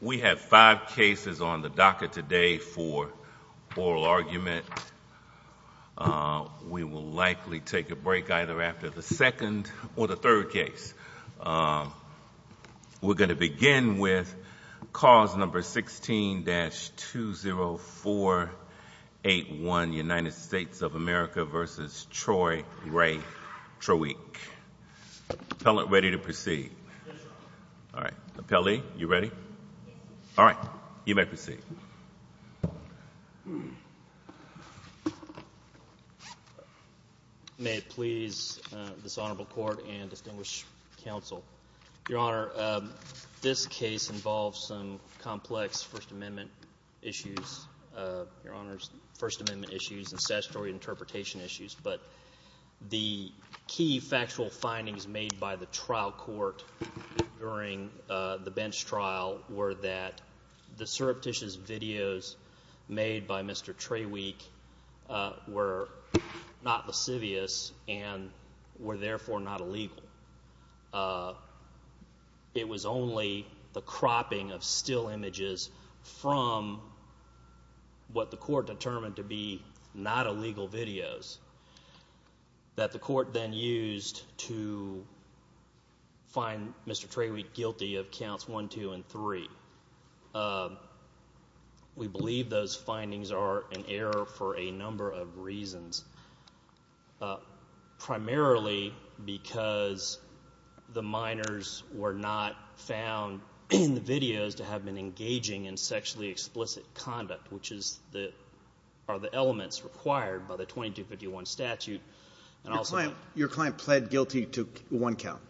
We have five cases on the docket today for oral argument. We will likely take a break either after the second or the third case. We're going to begin with cause number 16-20481 United States of America v. Troy Ray Traweek. Appellant, ready to proceed? Yes, Your Honor. All right. Appellee, you ready? Yes, Your Honor. All right. You may proceed. May it please this Honorable Court and distinguished counsel, Your Honor, this case involves some First Amendment issues and statutory interpretation issues, but the key factual findings made by the trial court during the bench trial were that the surreptitious videos made by Mr. Traweek were not lascivious and were therefore not illegal. It was only the cropping of still to be not illegal videos that the court then used to find Mr. Traweek guilty of counts 1, 2, and 3. We believe those findings are in error for a number of reasons, primarily because the minors were not the elements required by the 2251 statute. Your client pled guilty to one count?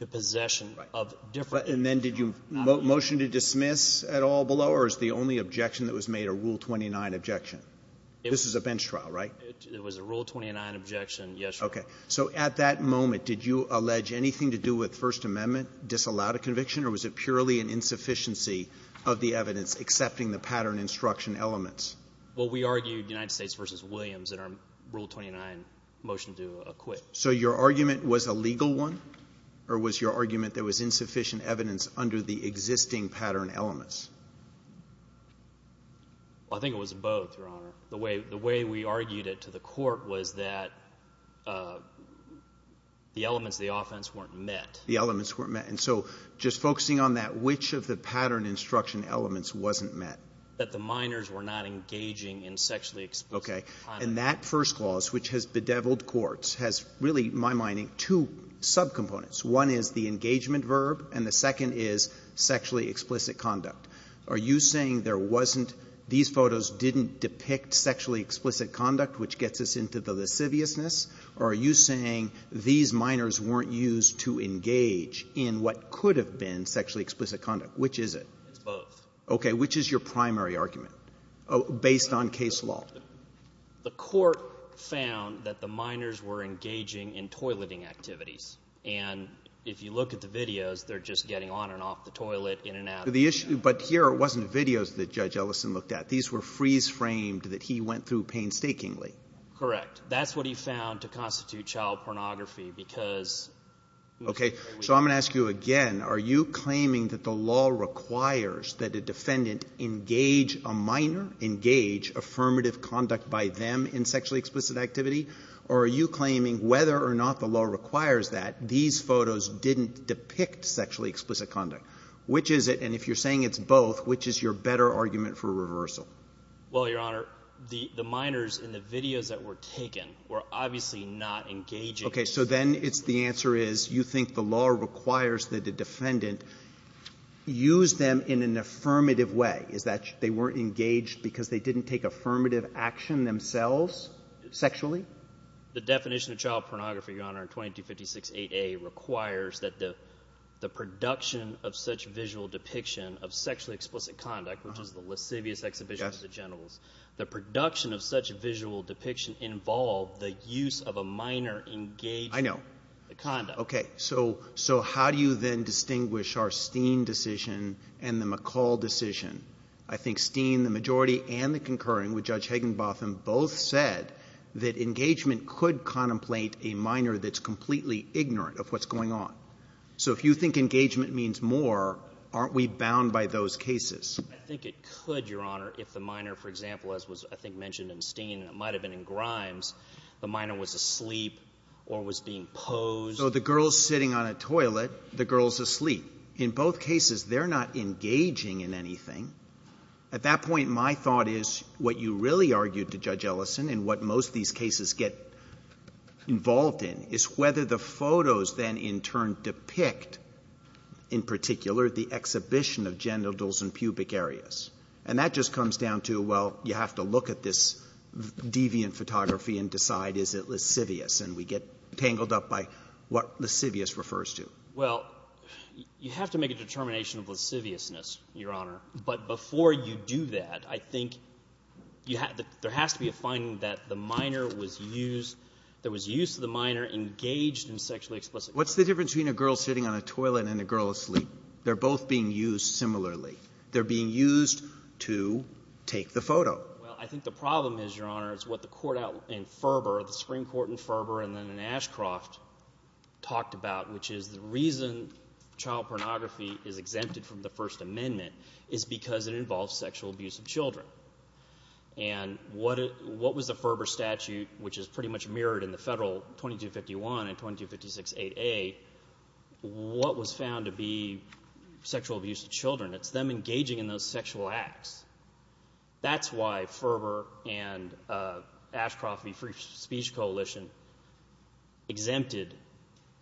To possession of different. And then did you motion to dismiss at all below, or is the only objection that was made a Rule 29 objection? This is a bench trial, right? It was a Rule 29 objection, yes, Your Honor. Okay. So at that moment, did you allege anything to do with First Amendment disallowed a conviction, or was it purely an insufficiency of the evidence accepting the pattern instruction elements? Well, we argued United States v. Williams in our Rule 29 motion to acquit. So your argument was a legal one, or was your argument there was insufficient evidence under the existing pattern elements? I think it was both, Your Honor. The way we argued it to the court was that the elements of the offense weren't met. The elements weren't met. And so just focusing on that, which of the pattern instruction elements wasn't met? That the minors were not engaging in sexually explicit conduct. Okay. And that first clause, which has bedeviled courts, has really, in my mind, two subcomponents. One is the engagement verb, and the second is sexually explicit conduct. Are you saying there wasn't – these photos didn't depict sexually explicit conduct, which gets us into the lasciviousness? Or are you saying these minors weren't used to engage in what could have been sexually explicit conduct? Which is it? It's both. Okay. Which is your primary argument, based on case law? The court found that the minors were engaging in toileting activities. And if you look at the videos, they're just getting on and off the toilet, in and out. But here it wasn't videos that Judge Ellison looked at. These were freeze-framed that he went through painstakingly. Correct. That's what he found to constitute child pornography because – Okay. So I'm going to ask you again. Are you claiming that the law requires that a defendant engage a minor, engage affirmative conduct by them in sexually explicit activity? Or are you claiming whether or not the law requires that these photos didn't depict sexually explicit conduct? Which is it? And if you're saying it's both, which is your better argument for reversal? Well, Your Honor, the minors in the videos that were taken were obviously not engaging – Okay. So then it's – the answer is you think the law requires that the defendant use them in an affirmative way, is that they weren't engaged because they didn't take affirmative action themselves sexually? The definition of child pornography, Your Honor, in 2256a requires that the production of such visual depiction of sexually explicit conduct, which is the lascivious exhibition of the generals, the production of such a visual depiction involved the use of a minor engaged – I know. The conduct. Okay. So how do you then distinguish our Steen decision and the McCall decision? I think Steen, the majority, and the concurring with Judge Hagenbotham both said that engagement could contemplate a minor that's completely ignorant of what's going on. So if you think engagement means more, aren't we bound by those cases? I think it could, Your Honor, if the minor, for example, as was I think mentioned in Steen, and it might have been in Grimes, the minor was asleep or was being posed. So the girl's sitting on a toilet, the girl's asleep. In both cases, they're not engaging in anything. At that point, my thought is what you really argued to Judge Ellison and what most of these cases get involved in is whether the photos then in turn depict, in particular, the exhibition of genitals and pubic areas. And that just comes down to, well, you have to look at this deviant photography and decide is it lascivious, and we get tangled up by what lascivious refers to. Well, you have to make a determination of lasciviousness, Your Honor. But before you do that, I think there has to be a finding that the minor was used – there was use of the minor engaged in sexually explicit behavior. What's the difference between a girl sitting on a toilet and a girl asleep? They're both being used similarly. They're being used to take the photo. Well, I think the problem is, Your Honor, is what the court in Ferber, the Supreme Court in Ferber and then in Ashcroft talked about, which is the reason child pornography is exempted from the First Amendment is because it involves sexual abuse of children. And what was the Ferber statute, which is pretty much mirrored in the Federal 2251 and 2256-8A, what was found to be sexual abuse of children? It's them engaging in those sexual acts. That's why Ferber and Ashcroft, the free speech coalition, exempted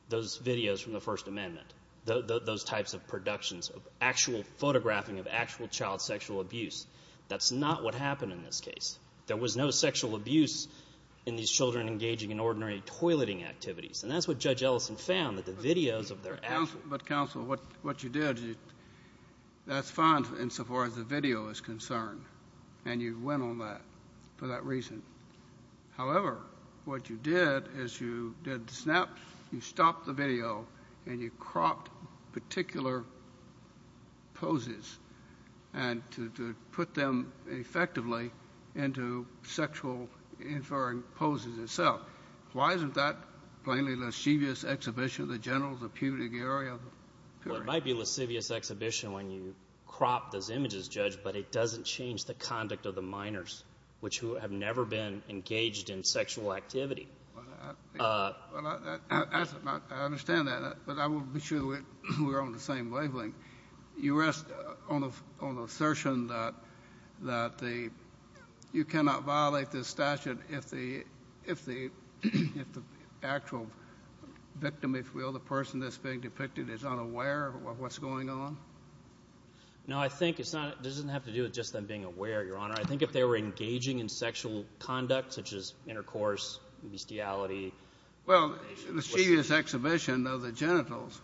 those videos from the First Amendment, those types of productions of actual photographing of actual child sexual abuse. That's not what happened in this case. There was no sexual abuse in these children engaging in ordinary toileting activities. And that's what Judge Ellison found, that the videos of their actual – But, counsel, what you did, that's fine insofar as the video is concerned, and you went on that for that reason. However, what you did is you did the snaps, you stopped the video, and you cropped particular poses and to put them effectively into sexual inferring poses itself. Why isn't that plainly a lascivious exhibition of the genitals, the pubic area? Well, it might be a lascivious exhibition when you crop those images, Judge, but it doesn't change the conduct of the minors, which have never been engaged in sexual activity. I understand that, but I want to be sure that we're on the same wavelength. You rest on the assertion that you cannot violate this statute if the actual victim, if you will, the person that's being depicted is unaware of what's going on? No, I think it doesn't have to do with just them being aware, Your Honor. I think if they were engaging in sexual conduct, such as intercourse, bestiality. Well, the lascivious exhibition of the genitals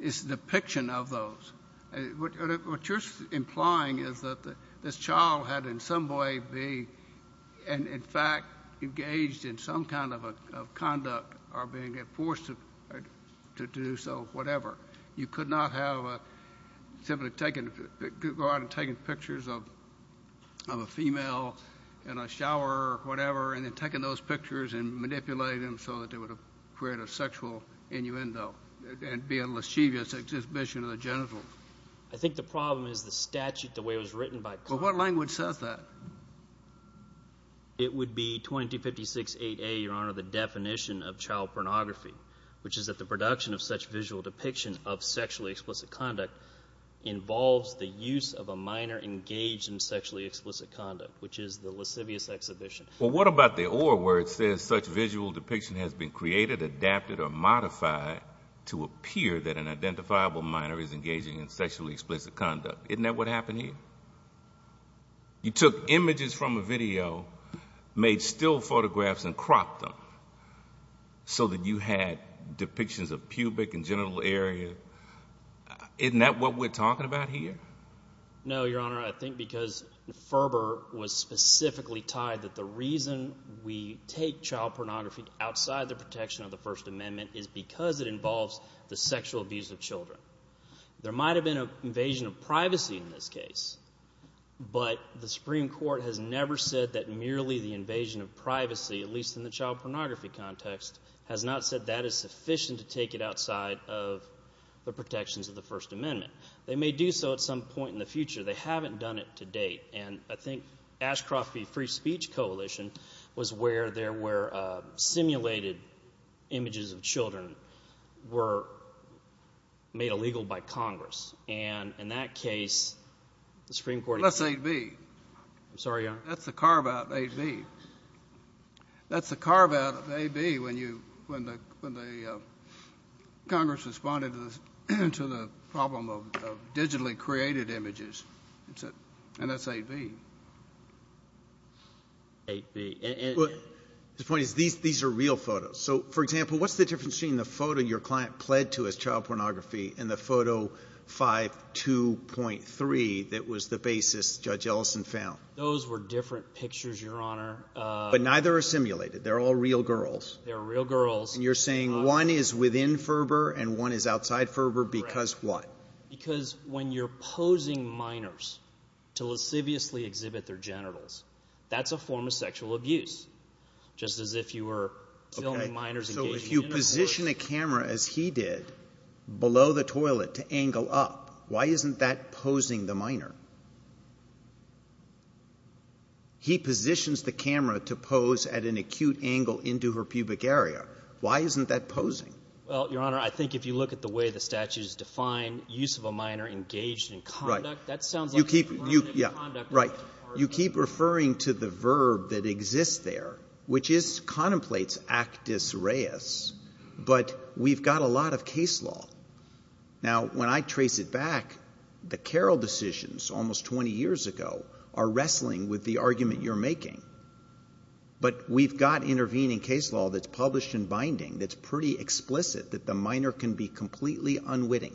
is a depiction of those. What you're implying is that this child had in some way been, in fact, engaged in some kind of conduct or being forced to do so, whatever. You could not have simply taken – go out and taken pictures of a female in a shower or whatever and then taken those pictures and manipulated them so that they would have created a sexual innuendo and be a lascivious exhibition of the genitals. I think the problem is the statute, the way it was written by Congress. Well, what language says that? It would be 2256-8A, Your Honor, the definition of child pornography, which is that the production of such visual depiction of sexually explicit conduct involves the use of a minor engaged in sexually explicit conduct, which is the lascivious exhibition. Well, what about the or where it says such visual depiction has been created, adapted, or modified to appear that an identifiable minor is engaging in sexually explicit conduct? Isn't that what happened here? You took images from a video, made still photographs, and cropped them so that you had depictions of pubic and genital area. Isn't that what we're talking about here? No, Your Honor. I think because Ferber was specifically tied that the reason we take child pornography outside the protection of the First Amendment is because it involves the sexual abuse of children. There might have been an invasion of privacy in this case, but the Supreme Court has never said that merely the invasion of privacy, at least in the child pornography context, has not said that is sufficient to take it outside of the protections of the First Amendment. They may do so at some point in the future. They haven't done it to date. And I think Ashcroft v. Free Speech Coalition was where there were simulated images of children were made illegal by Congress. And in that case, the Supreme Court— That's 8B. I'm sorry, Your Honor. That's the carve-out of 8B. That's the carve-out of 8B when the Congress responded to the problem of digitally created images. And that's 8B. 8B. The point is these are real photos. So, for example, what's the difference between the photo your client pled to as child pornography and the photo 5.2.3 that was the basis Judge Ellison found? Those were different pictures, Your Honor. But neither are simulated. They're all real girls. They're real girls. And you're saying one is within Ferber and one is outside Ferber because what? Because when you're posing minors to lasciviously exhibit their genitals, that's a form of sexual abuse, just as if you were filming minors engaging in a force— He positions the camera to pose at an acute angle into her pubic area. Why isn't that posing? Well, Your Honor, I think if you look at the way the statutes define use of a minor engaged in conduct— Right. You keep referring to the verb that exists there, which contemplates actus reus, but we've got a lot of case law. Now, when I trace it back, the Carroll decisions almost 20 years ago are wrestling with the argument you're making, but we've got intervening case law that's published in Binding that's pretty explicit that the minor can be completely unwitting.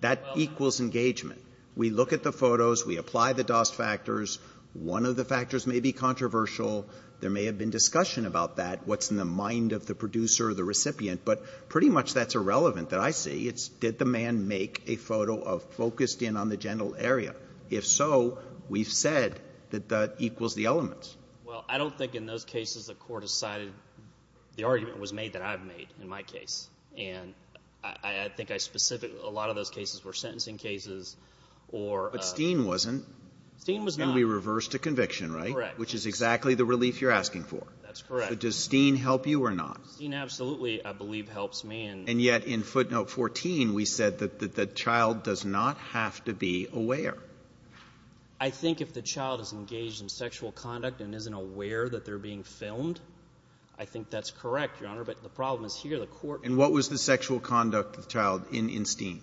That equals engagement. We look at the photos. We apply the DOST factors. One of the factors may be controversial. There may have been discussion about that, what's in the mind of the producer or the recipient, but pretty much that's irrelevant that I see. It's did the man make a photo of focused in on the genital area? If so, we've said that that equals the elements. Well, I don't think in those cases the court has cited the argument was made that I've made in my case. And I think I specifically—a lot of those cases were sentencing cases or— But Steen wasn't. Steen was not. And we reversed a conviction, right? Correct. Which is exactly the relief you're asking for. That's correct. So does Steen help you or not? Steen absolutely, I believe, helps me. And yet in footnote 14 we said that the child does not have to be aware. I think if the child is engaged in sexual conduct and isn't aware that they're being filmed, I think that's correct, Your Honor, but the problem is here the court— And what was the sexual conduct of the child in Steen?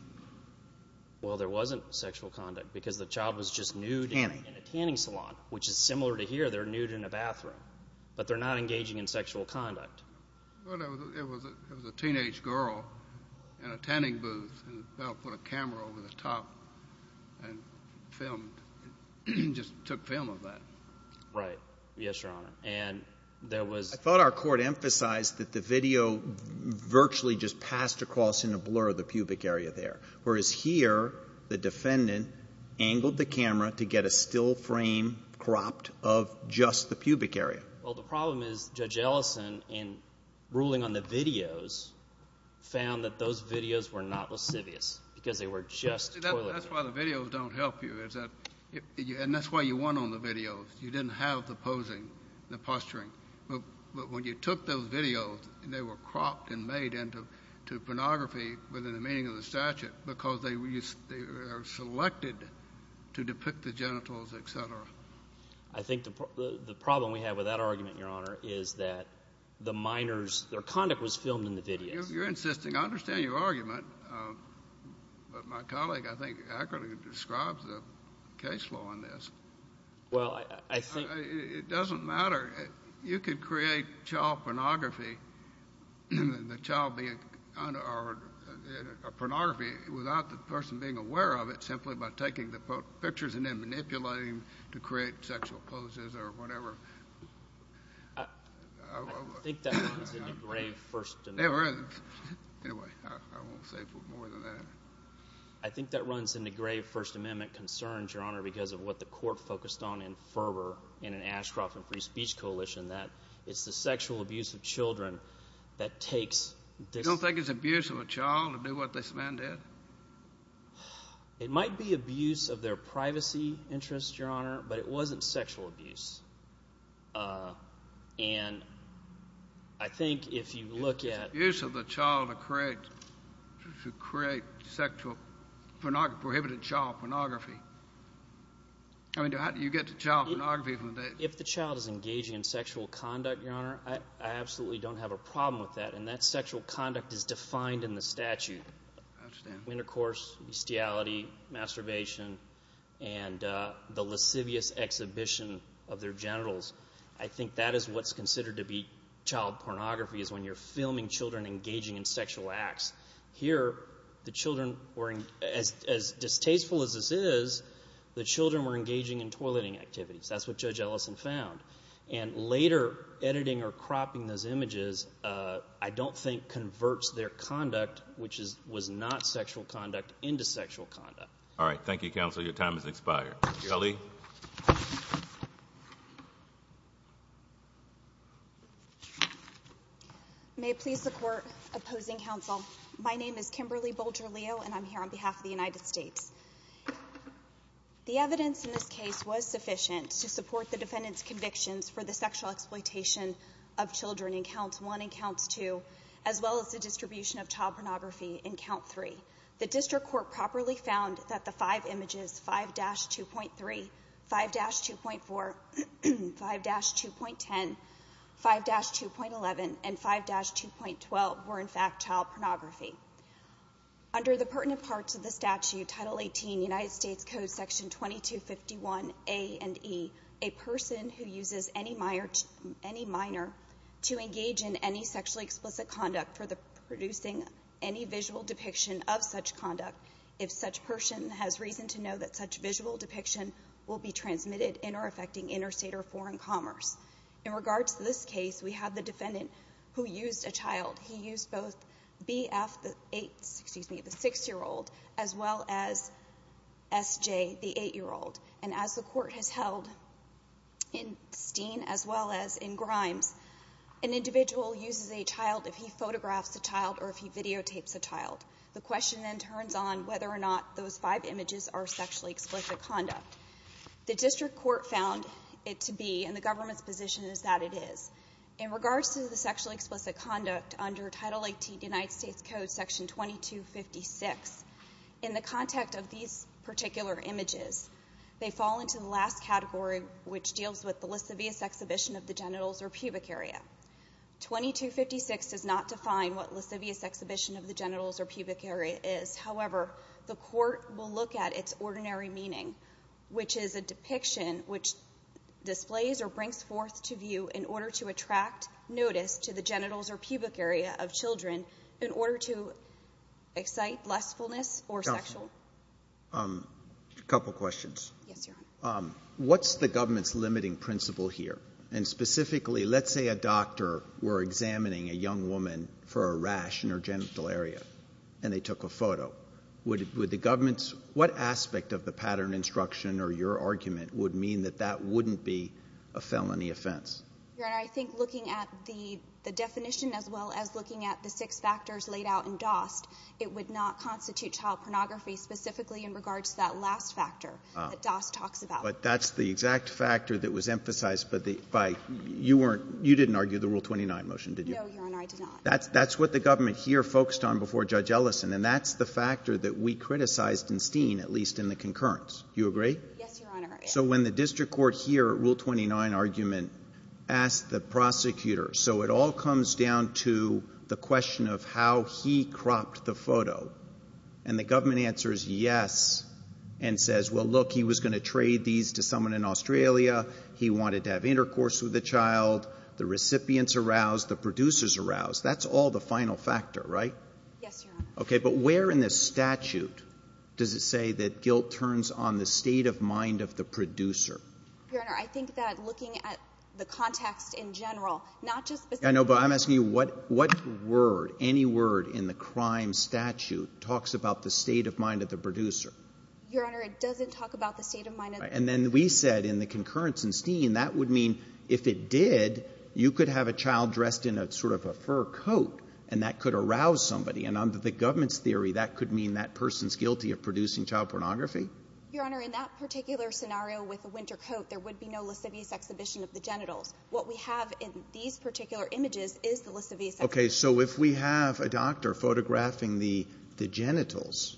Well, there wasn't sexual conduct because the child was just nude— Tanning. In a tanning salon, which is similar to here. They're nude in a bathroom, but they're not engaging in sexual conduct. Well, it was a teenage girl in a tanning booth, and they put a camera over the top and filmed—just took film of that. Right. Yes, Your Honor. And there was— I thought our court emphasized that the video virtually just passed across in a blur the pubic area there, whereas here the defendant angled the camera to get a still frame cropped of just the pubic area. Well, the problem is Judge Ellison, in ruling on the videos, found that those videos were not lascivious because they were just toilet paper. That's why the videos don't help you, and that's why you won on the videos. You didn't have the posing, the posturing. But when you took those videos, they were cropped and made into pornography within the meaning of the statute because they are selected to depict the genitals, et cetera. I think the problem we have with that argument, Your Honor, is that the minors—their conduct was filmed in the videos. You're insisting. I understand your argument, but my colleague, I think, accurately describes the case law on this. Well, I think— It doesn't matter. You could create child pornography without the person being aware of it simply by taking the pictures and then manipulating them to create sexual poses or whatever. I think that runs into grave First Amendment— It does. Anyway, I won't say more than that. I think that runs into grave First Amendment concerns, Your Honor, because of what the court focused on in Ferber in an Ashcroft and Free Speech coalition, that it's the sexual abuse of children that takes— You don't think it's abuse of a child to do what this man did? It might be abuse of their privacy interests, Your Honor, but it wasn't sexual abuse. And I think if you look at— prohibited child pornography. I mean, how do you get to child pornography from the data? If the child is engaging in sexual conduct, Your Honor, I absolutely don't have a problem with that, and that sexual conduct is defined in the statute. I understand. Intercourse, bestiality, masturbation, and the lascivious exhibition of their genitals. I think that is what's considered to be child pornography is when you're filming children engaging in sexual acts. Here, the children were—as distasteful as this is, the children were engaging in toileting activities. That's what Judge Ellison found. And later, editing or cropping those images I don't think converts their conduct, which was not sexual conduct, into sexual conduct. All right. Thank you, counsel. Your time has expired. Ali? May it please the Court. Opposing counsel. My name is Kimberly Bolger-Leo, and I'm here on behalf of the United States. The evidence in this case was sufficient to support the defendant's convictions for the sexual exploitation of children in Count 1 and Count 2, as well as the distribution of child pornography in Count 3. The district court properly found that the five images, 5-2.3, 5-2.4, 5-2.10, 5-2.11, and 5-2.12, were in fact child pornography. Under the pertinent parts of the statute, Title 18, United States Code Section 2251A and E, a person who uses any minor to engage in any sexually explicit conduct for producing any visual depiction of such conduct, if such person has reason to know that such visual depiction will be transmitted in or affecting interstate or foreign commerce. In regards to this case, we have the defendant who used a child. He used both BF, the 6-year-old, as well as SJ, the 8-year-old. And as the court has held in Steen as well as in Grimes, an individual uses a child if he photographs a child or if he videotapes a child. The question then turns on whether or not those five images are sexually explicit conduct. The district court found it to be, and the government's position is that it is. In regards to the sexually explicit conduct under Title 18, United States Code Section 2256, in the context of these particular images, they fall into the last category, which deals with the lascivious exhibition of the genitals or pubic area. 2256 does not define what lascivious exhibition of the genitals or pubic area is. However, the court will look at its ordinary meaning, which is a depiction which displays or brings forth to view in order to attract notice to the genitals or pubic area of children in order to excite blissfulness or sexual. A couple questions. Yes, Your Honor. What's the government's limiting principle here? And specifically, let's say a doctor were examining a young woman for a rash in her genital area, and they took a photo. Would the government's — what aspect of the pattern instruction or your argument would mean that that wouldn't be a felony offense? Your Honor, I think looking at the definition as well as looking at the six factors laid out in DOST, it would not constitute child pornography specifically in regards to that last factor that DOST talks about. But that's the exact factor that was emphasized by — you weren't — you didn't argue the Rule 29 motion, did you? No, Your Honor, I did not. That's what the government here focused on before Judge Ellison, and that's the factor that we criticized in Steen, at least in the concurrence. Do you agree? Yes, Your Honor. So when the district court here, Rule 29 argument, asked the prosecutor, so it all comes down to the question of how he cropped the photo, and the government answers yes and says, well, look, he was going to trade these to someone in Australia, he wanted to have intercourse with the child, the recipients aroused, the producers aroused, that's all the final factor, right? Yes, Your Honor. Okay, but where in this statute does it say that guilt turns on the state of mind of the producer? Your Honor, I think that looking at the context in general, not just — I know, but I'm asking you what word, any word in the crime statute talks about the state of mind of the producer? Your Honor, it doesn't talk about the state of mind of the — And then we said in the concurrence in Steen, that would mean if it did, you could have a child dressed in a sort of a fur coat, and that could arouse somebody, and under the government's theory, that could mean that person's guilty of producing child pornography? Your Honor, in that particular scenario with the winter coat, there would be no lascivious exhibition of the genitals. What we have in these particular images is the lascivious exhibition. Okay, so if we have a doctor photographing the genitals,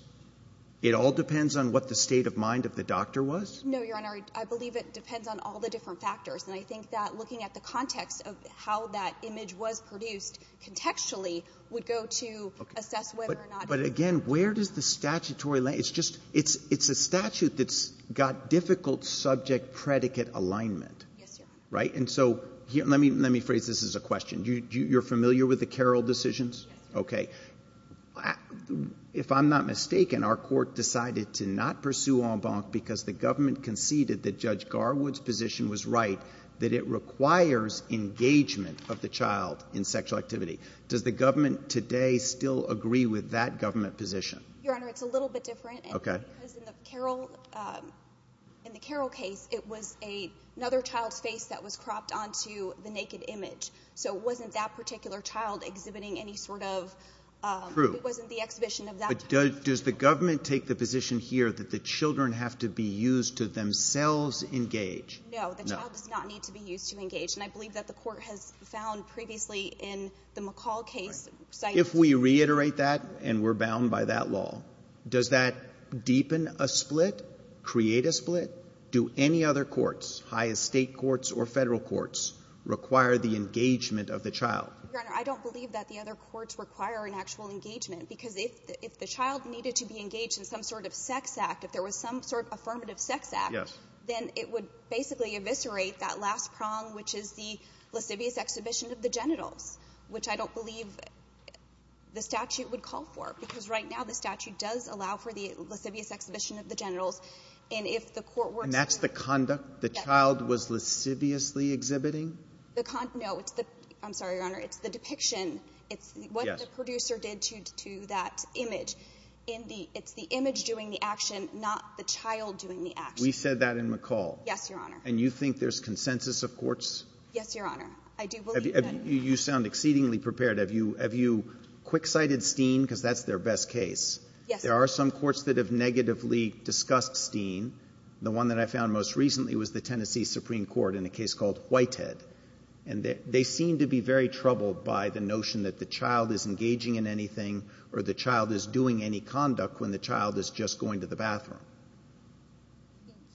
it all depends on what the state of mind of the doctor was? No, Your Honor, I believe it depends on all the different factors, and I think that looking at the context of how that image was produced contextually would go to assess whether or not — But again, where does the statutory — it's just — it's a statute that's got difficult subject-predicate alignment. Yes, Your Honor. Right? And so let me phrase this as a question. You're familiar with the Carroll decisions? Yes. Okay. If I'm not mistaken, our court decided to not pursue en banc because the government conceded that Judge Garwood's position was right, that it requires engagement of the child in sexual activity. Does the government today still agree with that government position? Your Honor, it's a little bit different. Okay. Because in the Carroll case, it was another child's face that was cropped onto the naked image, so it wasn't that particular child exhibiting any sort of — That's true. It wasn't the exhibition of that child. But does the government take the position here that the children have to be used to themselves engage? No. No. The child does not need to be used to engage, and I believe that the court has found previously in the McCall case — If we reiterate that, and we're bound by that law, does that deepen a split, create a split? Do any other courts, highest state courts or federal courts, require the engagement of the child? Your Honor, I don't believe that the other courts require an actual engagement because if the child needed to be engaged in some sort of sex act, if there was some sort of affirmative sex act, then it would basically eviscerate that last prong, which is the lascivious exhibition of the genitals, which I don't believe the statute would call for because right now the statute does allow for the lascivious exhibition of the genitals. And if the court were to — And that's the conduct the child was lasciviously exhibiting? No. I'm sorry, Your Honor. It's the depiction. Yes. It's what the producer did to that image. It's the image doing the action, not the child doing the action. We said that in McCall. Yes, Your Honor. And you think there's consensus of courts? Yes, Your Honor. I do believe that. You sound exceedingly prepared. Have you quick-sighted Steen? Because that's their best case. Yes. There are some courts that have negatively discussed Steen. The one that I found most recently was the Tennessee Supreme Court in a case called Whitehead. And they seem to be very troubled by the notion that the child is engaging in anything or the child is doing any conduct when the child is just going to the bathroom.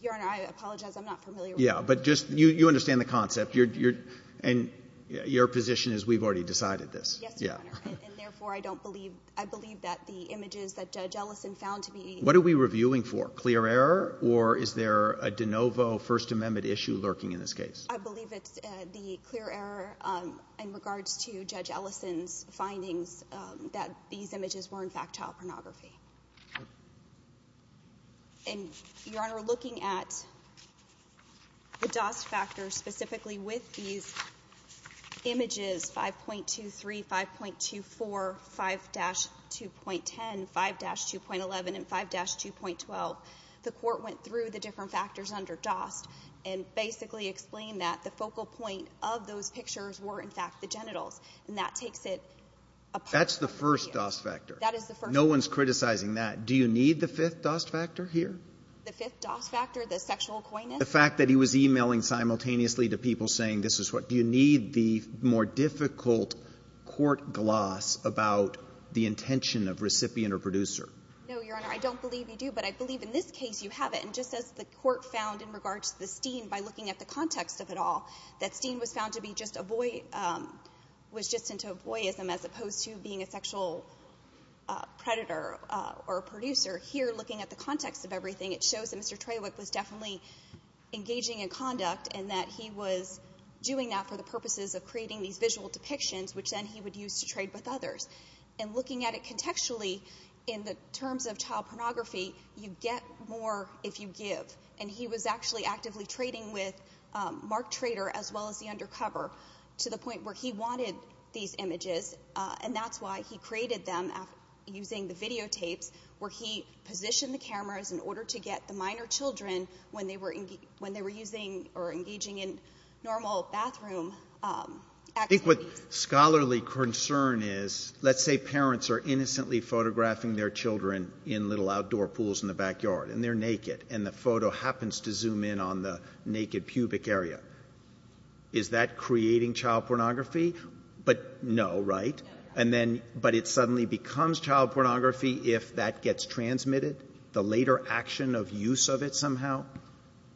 Your Honor, I apologize. I'm not familiar with that. Yeah, but just — you understand the concept. And your position is we've already decided this. Yes, Your Honor. And therefore, I don't believe — I believe that the images that Judge Ellison found to be — What are we reviewing for? Clear error? Or is there a de novo First Amendment issue lurking in this case? I believe it's the clear error in regards to Judge Ellison's findings that these images were, in fact, child pornography. And, Your Honor, looking at the DOS factor specifically with these images, 5.23, 5.24, 5-2.10, 5-2.11, and 5-2.12, the court went through the different factors under DOS and basically explained that the focal point of those pictures were, in fact, the genitals. And that takes it apart. That's the first DOS factor. That is the first. No one's criticizing that. Do you need the fifth DOS factor here? The fifth DOS factor, the sexual acquaintance? The fact that he was emailing simultaneously to people saying this is what — Do you need the more difficult court gloss about the intention of recipient or producer? No, Your Honor. I don't believe you do, but I believe in this case you have it. And just as the court found in regards to the Steen by looking at the context of it all that Steen was found to be just a boy — was just into a boyism as opposed to being a sexual predator or a producer, here looking at the context of everything, it shows that Mr. Trawick was definitely engaging in conduct and that he was doing that for the purposes of creating these visual depictions, which then he would use to trade with others. And looking at it contextually in the terms of child pornography, you get more if you give. And he was actually actively trading with Mark Trader as well as the Undercover to the point where he wanted these images, and that's why he created them using the videotapes where he positioned the cameras in order to get the minor children when they were engaging in normal bathroom activities. I think what scholarly concern is, let's say parents are innocently photographing their children in little outdoor pools in the backyard, and they're naked, and the photo happens to zoom in on the naked pubic area. Is that creating child pornography? But no, right? No, Your Honor. But it suddenly becomes child pornography if that gets transmitted? The later action of use of it somehow?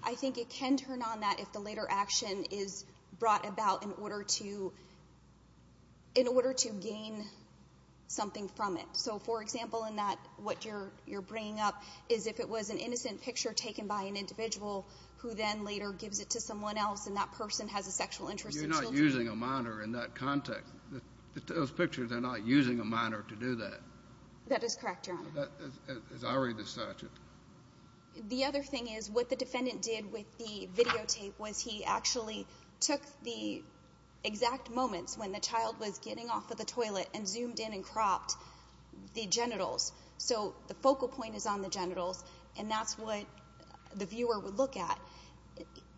I think it can turn on that if the later action is brought about in order to gain something from it. So, for example, in that what you're bringing up is if it was an innocent picture taken by an individual who then later gives it to someone else, and that person has a sexual interest in children. You're not using a minor in that context. Those pictures are not using a minor to do that. That is correct, Your Honor. As I read the statute. The other thing is what the defendant did with the videotape was he actually took the exact moments when the child was getting off of the toilet and zoomed in and cropped the genitals. So the focal point is on the genitals, and that's what the viewer would look at.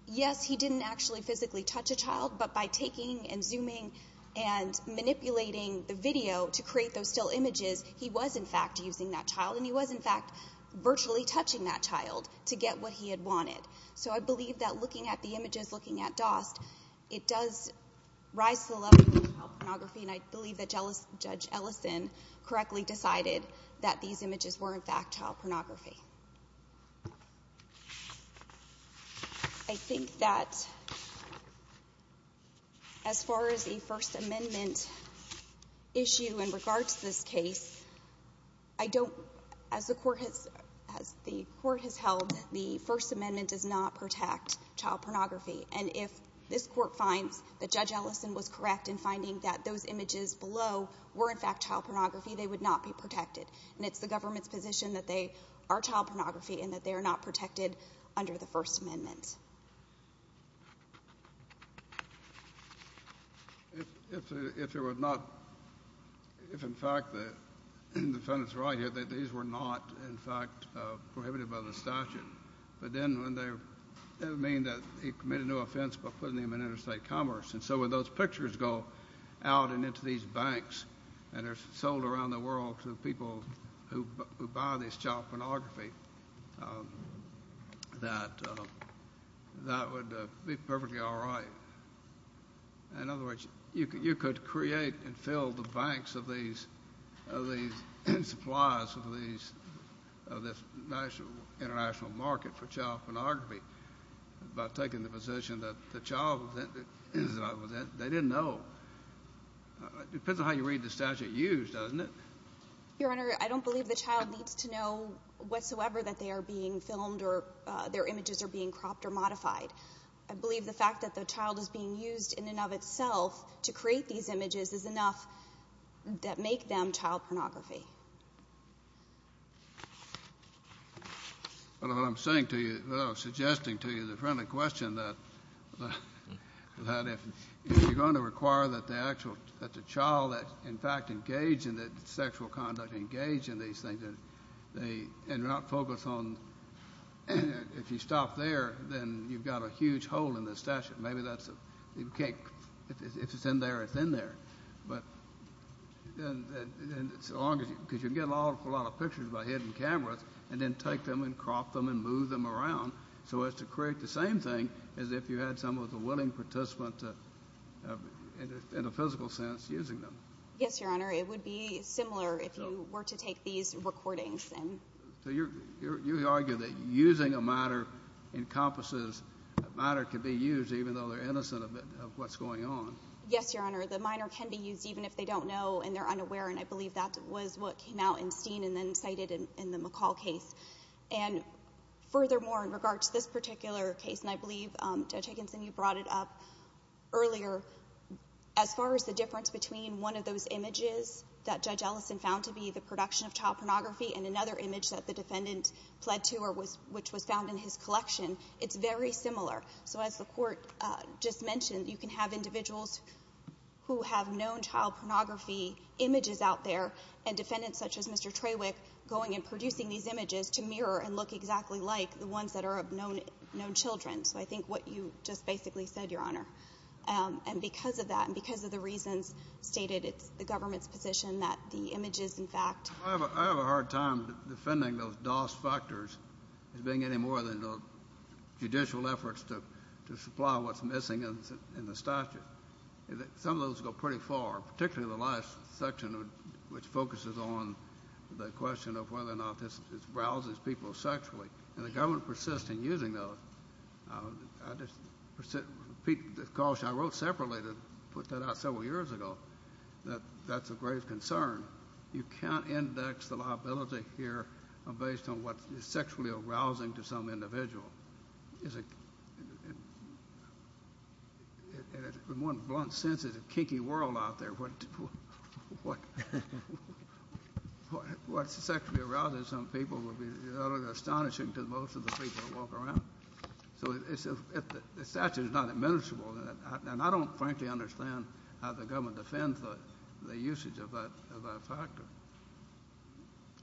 Yes, he didn't actually physically touch a child, but by taking and zooming and manipulating the video to create those still images, he was, in fact, using that child, and he was, in fact, virtually touching that child to get what he had wanted. So I believe that looking at the images, looking at DOST, it does rise to the level of child pornography, and I believe that Judge Ellison correctly decided that these images were, in fact, child pornography. I think that as far as the First Amendment issue in regards to this case, I don't, as the court has held, the First Amendment does not protect child pornography, and if this court finds that Judge Ellison was correct in finding that those images below were, in fact, child pornography, they would not be protected. And it's the government's position that they are child pornography and that they are not protected under the First Amendment. If, in fact, the defendant's right here that these were not, in fact, prohibited by the statute, but then that would mean that he committed no offense by putting them in interstate commerce. And so when those pictures go out and into these banks and are sold around the world to people who buy this child pornography, that would be perfectly all right. In other words, you could create and fill the banks of these supplies of this international market for child pornography by taking the position that the child was in it. They didn't know. It depends on how you read the statute used, doesn't it? Your Honor, I don't believe the child needs to know whatsoever that they are being filmed or their images are being cropped or modified. I believe the fact that the child is being used in and of itself to create these images is enough that make them child pornography. Well, what I'm saying to you, what I'm suggesting to you is a friendly question, that if you're going to require that the child that, in fact, engage in sexual conduct, engage in these things, and not focus on if you stop there, then you've got a huge hole in the statute. Maybe that's a cake. If it's in there, it's in there. But as long as you can get a lot of pictures by hidden cameras and then take them and crop them and move them around so as to create the same thing as if you had someone with a willing participant in a physical sense using them. Yes, Your Honor. It would be similar if you were to take these recordings. So you argue that using a minor encompasses a minor can be used even though they're innocent of what's going on. Yes, Your Honor. The minor can be used even if they don't know and they're unaware, and I believe that was what came out in Steen and then cited in the McCall case. And furthermore, in regard to this particular case, and I believe, Judge Higginson, you brought it up earlier, as far as the difference between one of those images that Judge Ellison found to be the production of child pornography and another image that the defendant pled to or which was found in his collection, it's very similar. So as the Court just mentioned, you can have individuals who have known child pornography images out there and defendants such as Mr. Trawick going and producing these images to mirror and look exactly like the ones that are of known children. So I think what you just basically said, Your Honor. And because of that and because of the reasons stated, it's the government's position that the images, in fact. I have a hard time defending those DOS factors as being any more than the judicial efforts to supply what's missing in the statute. Some of those go pretty far, particularly the last section, which focuses on the question of whether or not this rouses people sexually. And the government persists in using those. I wrote separately to put that out several years ago that that's a grave concern. You can't index the liability here based on what is sexually arousing to some individual. In one blunt sense, it's a kinky world out there. What sexually arouses some people would be astonishing to most of the people that walk around. So the statute is not admissible. And I don't frankly understand how the government defends the usage of that factor.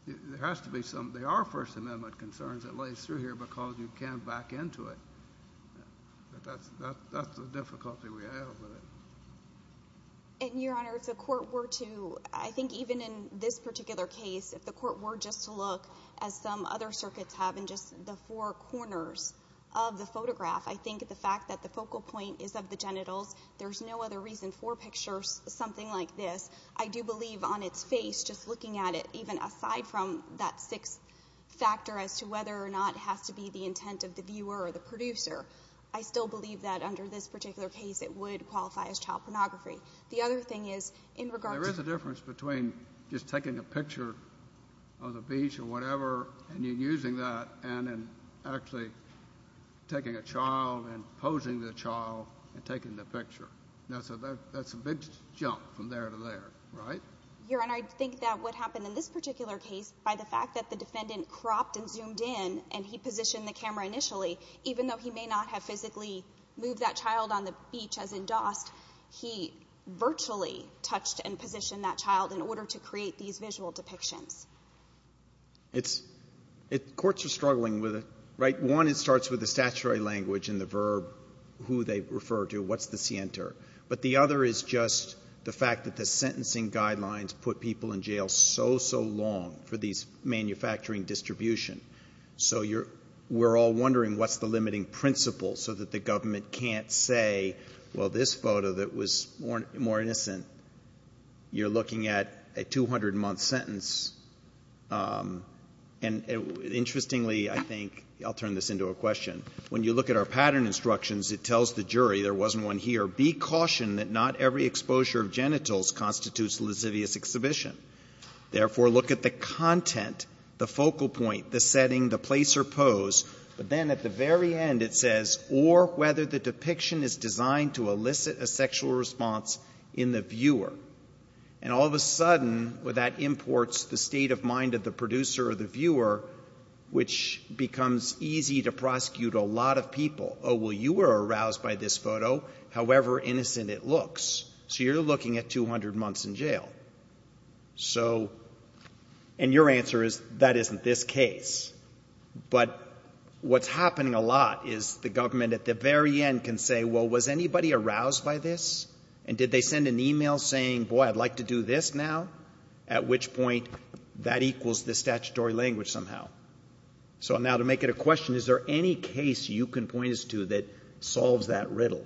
There are First Amendment concerns that lay through here because you can't back into it. But that's the difficulty we have with it. And, Your Honor, if the court were to, I think even in this particular case, if the court were just to look as some other circuits have in just the four corners of the photograph, I think the fact that the focal point is of the genitals, there's no other reason for pictures something like this. I do believe on its face, just looking at it, even aside from that sixth factor as to whether or not it has to be the intent of the viewer or the producer, I still believe that under this particular case it would qualify as child pornography. The other thing is in regard to the difference between just taking a picture of the beach or whatever and using that and then actually taking a child and posing the child and taking the picture. That's a big jump from there to there, right? Your Honor, I think that what happened in this particular case, by the fact that the defendant cropped and zoomed in and he positioned the camera initially, even though he may not have physically moved that child on the beach as endorsed, he virtually touched and positioned that child in order to create these visual depictions. Courts are struggling with it, right? One, it starts with the statutory language and the verb, who they refer to, what's the scienter? But the other is just the fact that the sentencing guidelines put people in jail so, so long for these manufacturing distribution. So we're all wondering what's the limiting principle so that the government can't say, well, this photo that was more innocent, you're looking at a 200-month sentence. And interestingly, I think, I'll turn this into a question. When you look at our pattern instructions, it tells the jury, there wasn't one here, be cautioned that not every exposure of genitals constitutes a lascivious exhibition. Therefore, look at the content, the focal point, the setting, the place or pose. But then at the very end it says, or whether the depiction is designed to elicit a sexual response in the viewer. And all of a sudden, that imports the state of mind of the producer or the viewer, which becomes easy to prosecute a lot of people. Oh, well, you were aroused by this photo, however innocent it looks. So you're looking at 200 months in jail. So, and your answer is, that isn't this case. But what's happening a lot is the government at the very end can say, well, was anybody aroused by this? And did they send an e-mail saying, boy, I'd like to do this now? At which point, that equals the statutory language somehow. So now to make it a question, is there any case you can point us to that solves that riddle?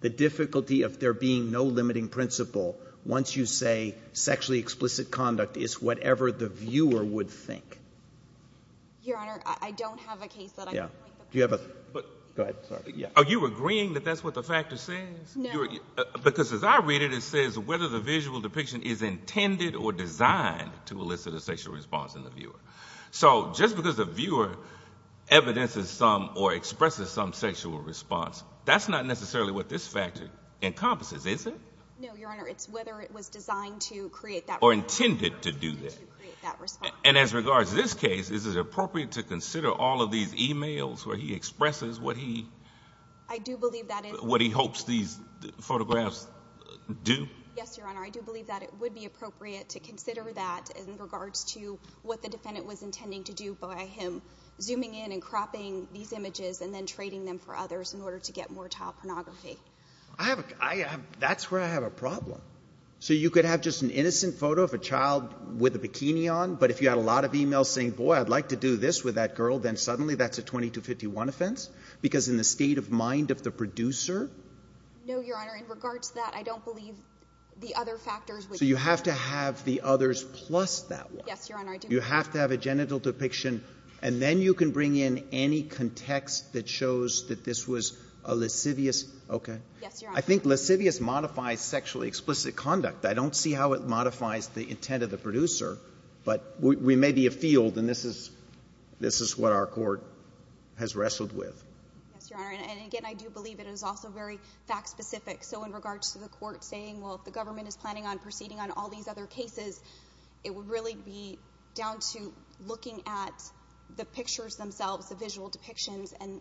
The difficulty of there being no limiting principle once you say sexually explicit conduct is whatever the viewer would think. Your Honor, I don't have a case that I can point to. Go ahead. Are you agreeing that that's what the factor says? No. Because as I read it, it says whether the visual depiction is intended or designed to elicit a sexual response in the viewer. So just because the viewer evidences some or expresses some sexual response, that's not necessarily what this factor encompasses, is it? No, Your Honor. It's whether it was designed to create that response. Or intended to do that. And as regards to this case, is it appropriate to consider all of these e-mails where he expresses what he hopes these photographs do? Yes, Your Honor. I do believe that it would be appropriate to consider that in regards to what the defendant was intending to do by him zooming in and cropping these images and then trading them for others in order to get more child pornography. I have a – that's where I have a problem. So you could have just an innocent photo of a child with a bikini on, but if you had a lot of e-mails saying, boy, I'd like to do this with that girl, then suddenly that's a 2251 offense because in the state of mind of the producer? No, Your Honor. In regards to that, I don't believe the other factors would – So you have to have the others plus that one. Yes, Your Honor. You have to have a genital depiction, and then you can bring in any context that shows that this was a lascivious – okay. Yes, Your Honor. I think lascivious modifies sexually explicit conduct. I don't see how it modifies the intent of the producer. But we may be afield, and this is what our court has wrestled with. Yes, Your Honor. And again, I do believe it is also very fact-specific. So in regards to the court saying, well, if the government is planning on proceeding on all these other cases, it would really be down to looking at the pictures themselves, the visual depictions, and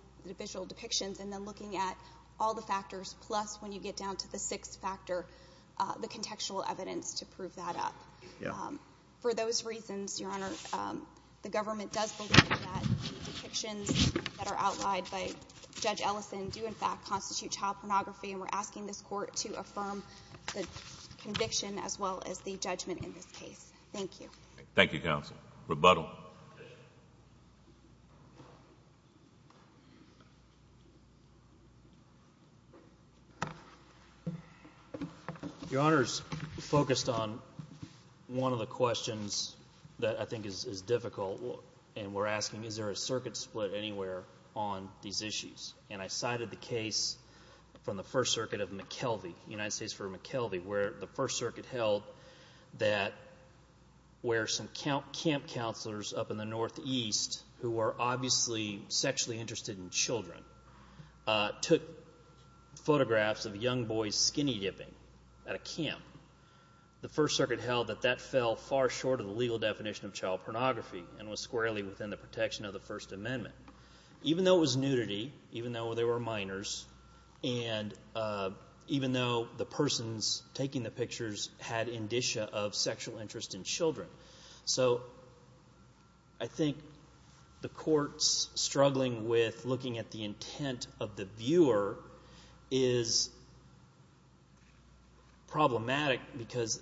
then looking at all the factors plus, when you get down to the sixth factor, the contextual evidence to prove that up. For those reasons, Your Honor, the government does believe that the depictions that are outlined by Judge Ellison do in fact constitute child pornography, and we're asking this court to affirm the conviction as well as the judgment in this case. Thank you. Thank you, counsel. Rebuttal. Your Honor's focused on one of the questions that I think is difficult, and we're asking, is there a circuit split anywhere on these issues? And I cited the case from the First Circuit of McKelvey, United States v. McKelvey, where the First Circuit held that where some camp counselors up in the northeast, who were obviously sexually interested in children, took photographs of young boys skinny dipping at a camp, the First Circuit held that that fell far short of the legal definition of child pornography and was squarely within the protection of the First Amendment. Even though it was nudity, even though they were minors, and even though the persons taking the pictures had indicia of sexual interest in children. So I think the court's struggling with looking at the intent of the viewer is problematic because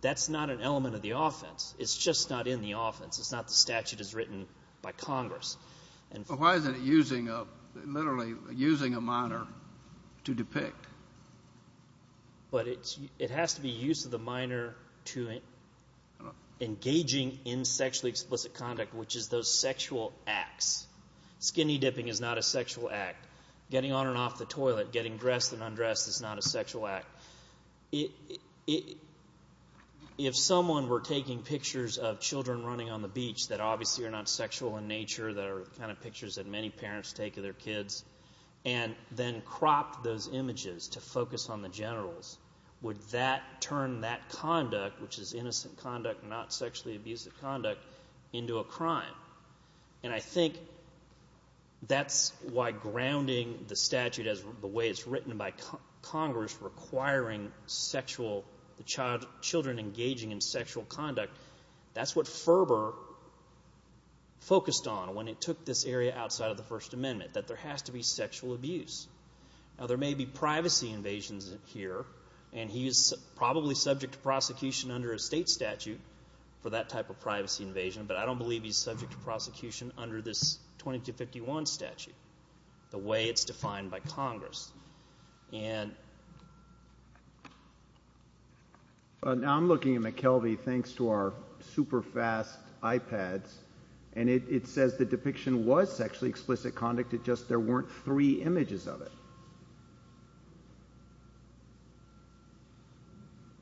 that's not an element of the offense. It's just not in the offense. It's not the statute as written by Congress. Why isn't it literally using a minor to depict? But it has to be use of the minor to engaging in sexually explicit conduct, which is those sexual acts. Skinny dipping is not a sexual act. Getting on and off the toilet, getting dressed and undressed is not a sexual act. If someone were taking pictures of children running on the beach that obviously are not sexual in nature, that are the kind of pictures that many parents take of their kids, and then cropped those images to focus on the generals, would that turn that conduct, which is innocent conduct, not sexually abusive conduct, into a crime? And I think that's why grounding the statute as the way it's written by Congress, requiring the children engaging in sexual conduct, that's what Ferber focused on when he took this area outside of the First Amendment, that there has to be sexual abuse. Now there may be privacy invasions here, and he is probably subject to prosecution under a state statute for that type of privacy invasion, but I don't believe he's subject to prosecution under this 2251 statute, the way it's defined by Congress. Now I'm looking at McKelvey, thanks to our super fast iPads, and it says the depiction was sexually explicit conduct, it's just there weren't three images of it.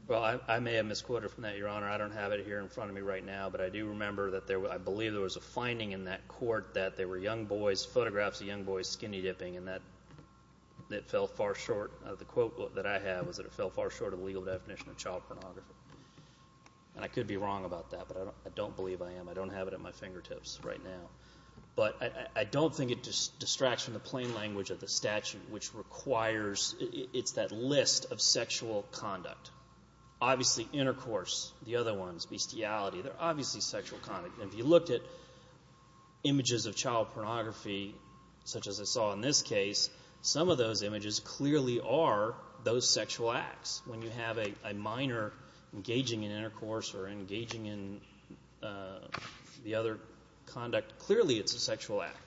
Well, I may have misquoted from that, Your Honor. I don't have it here in front of me right now, but I do remember that there was, I believe there was a finding in that court that there were young boys, photographs of young boys skinny dipping, and that fell far short of the quote that I have, was that it fell far short of the legal definition of child pornography. And I could be wrong about that, but I don't believe I am. I don't have it at my fingertips right now. But I don't think it distracts from the plain language of the statute, which requires, it's that list of sexual conduct. Obviously intercourse, the other ones, bestiality, they're obviously sexual conduct. And if you looked at images of child pornography, such as I saw in this case, some of those images clearly are those sexual acts. When you have a minor engaging in intercourse or engaging in the other conduct, clearly it's a sexual act.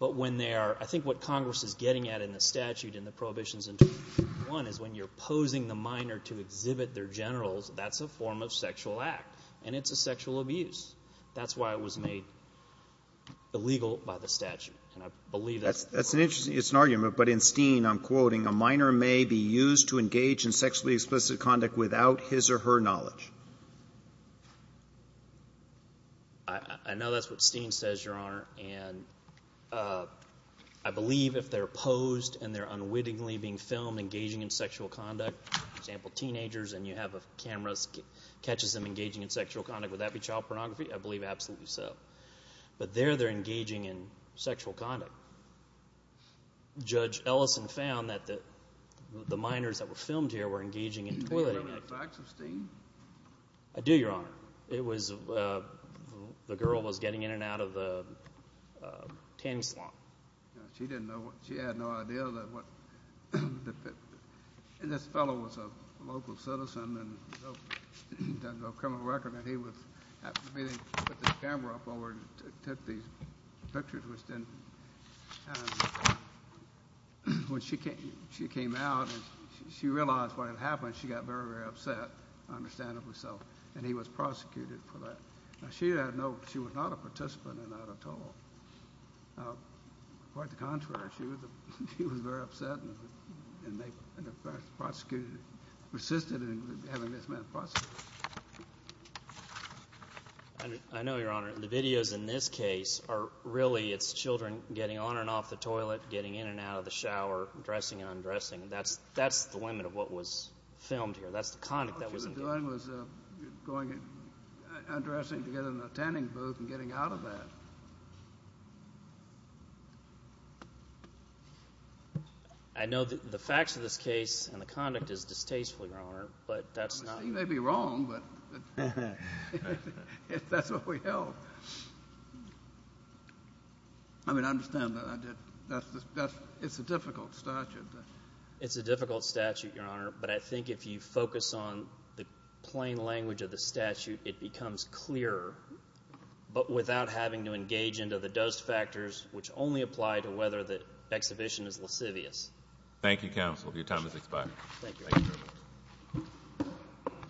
But when they are, I think what Congress is getting at in the statute and the prohibitions in 2251 is when you're posing the minor to exhibit their genitals, that's a form of sexual act. And it's a sexual abuse. That's why it was made illegal by the statute. And I believe that's the point. Roberts. It's an argument, but in Steen I'm quoting, a minor may be used to engage in sexually explicit conduct without his or her knowledge. I know that's what Steen says, Your Honor. And I believe if they're posed and they're unwittingly being filmed engaging in sexual conduct, for example, teenagers, and you have a camera that catches them engaging in sexual conduct, would that be child pornography? I believe absolutely so. But there they're engaging in sexual conduct. Judge Ellison found that the minors that were filmed here were engaging in. Do you remember the facts of Steen? I do, Your Honor. It was the girl was getting in and out of the tanning salon. She didn't know. She had no idea. And this fellow was a local citizen and doesn't have a criminal record, and he was meeting with the camera up over and took these pictures. When she came out, she realized what had happened. She got very, very upset, understandably so. And he was prosecuted for that. Now, she didn't know. She was not a participant in that at all. Quite the contrary. She was very upset and the prosecutor resisted in having this man prosecuted. I know, Your Honor. The videos in this case are really it's children getting on and off the toilet, getting in and out of the shower, dressing and undressing. That's the limit of what was filmed here. That's the conduct that was engaged. All she was doing was going and undressing to get in the tanning booth and getting out of that. I know the facts of this case and the conduct is distasteful, Your Honor, but that's not. Steen may be wrong, but that's what we held. I mean, I understand that. It's a difficult statute. It's a difficult statute, Your Honor, but I think if you focus on the plain language of the statute, it becomes clearer but without having to engage into the dust factors, which only apply to whether the exhibition is lascivious. Thank you, counsel. Your time has expired. Thank you.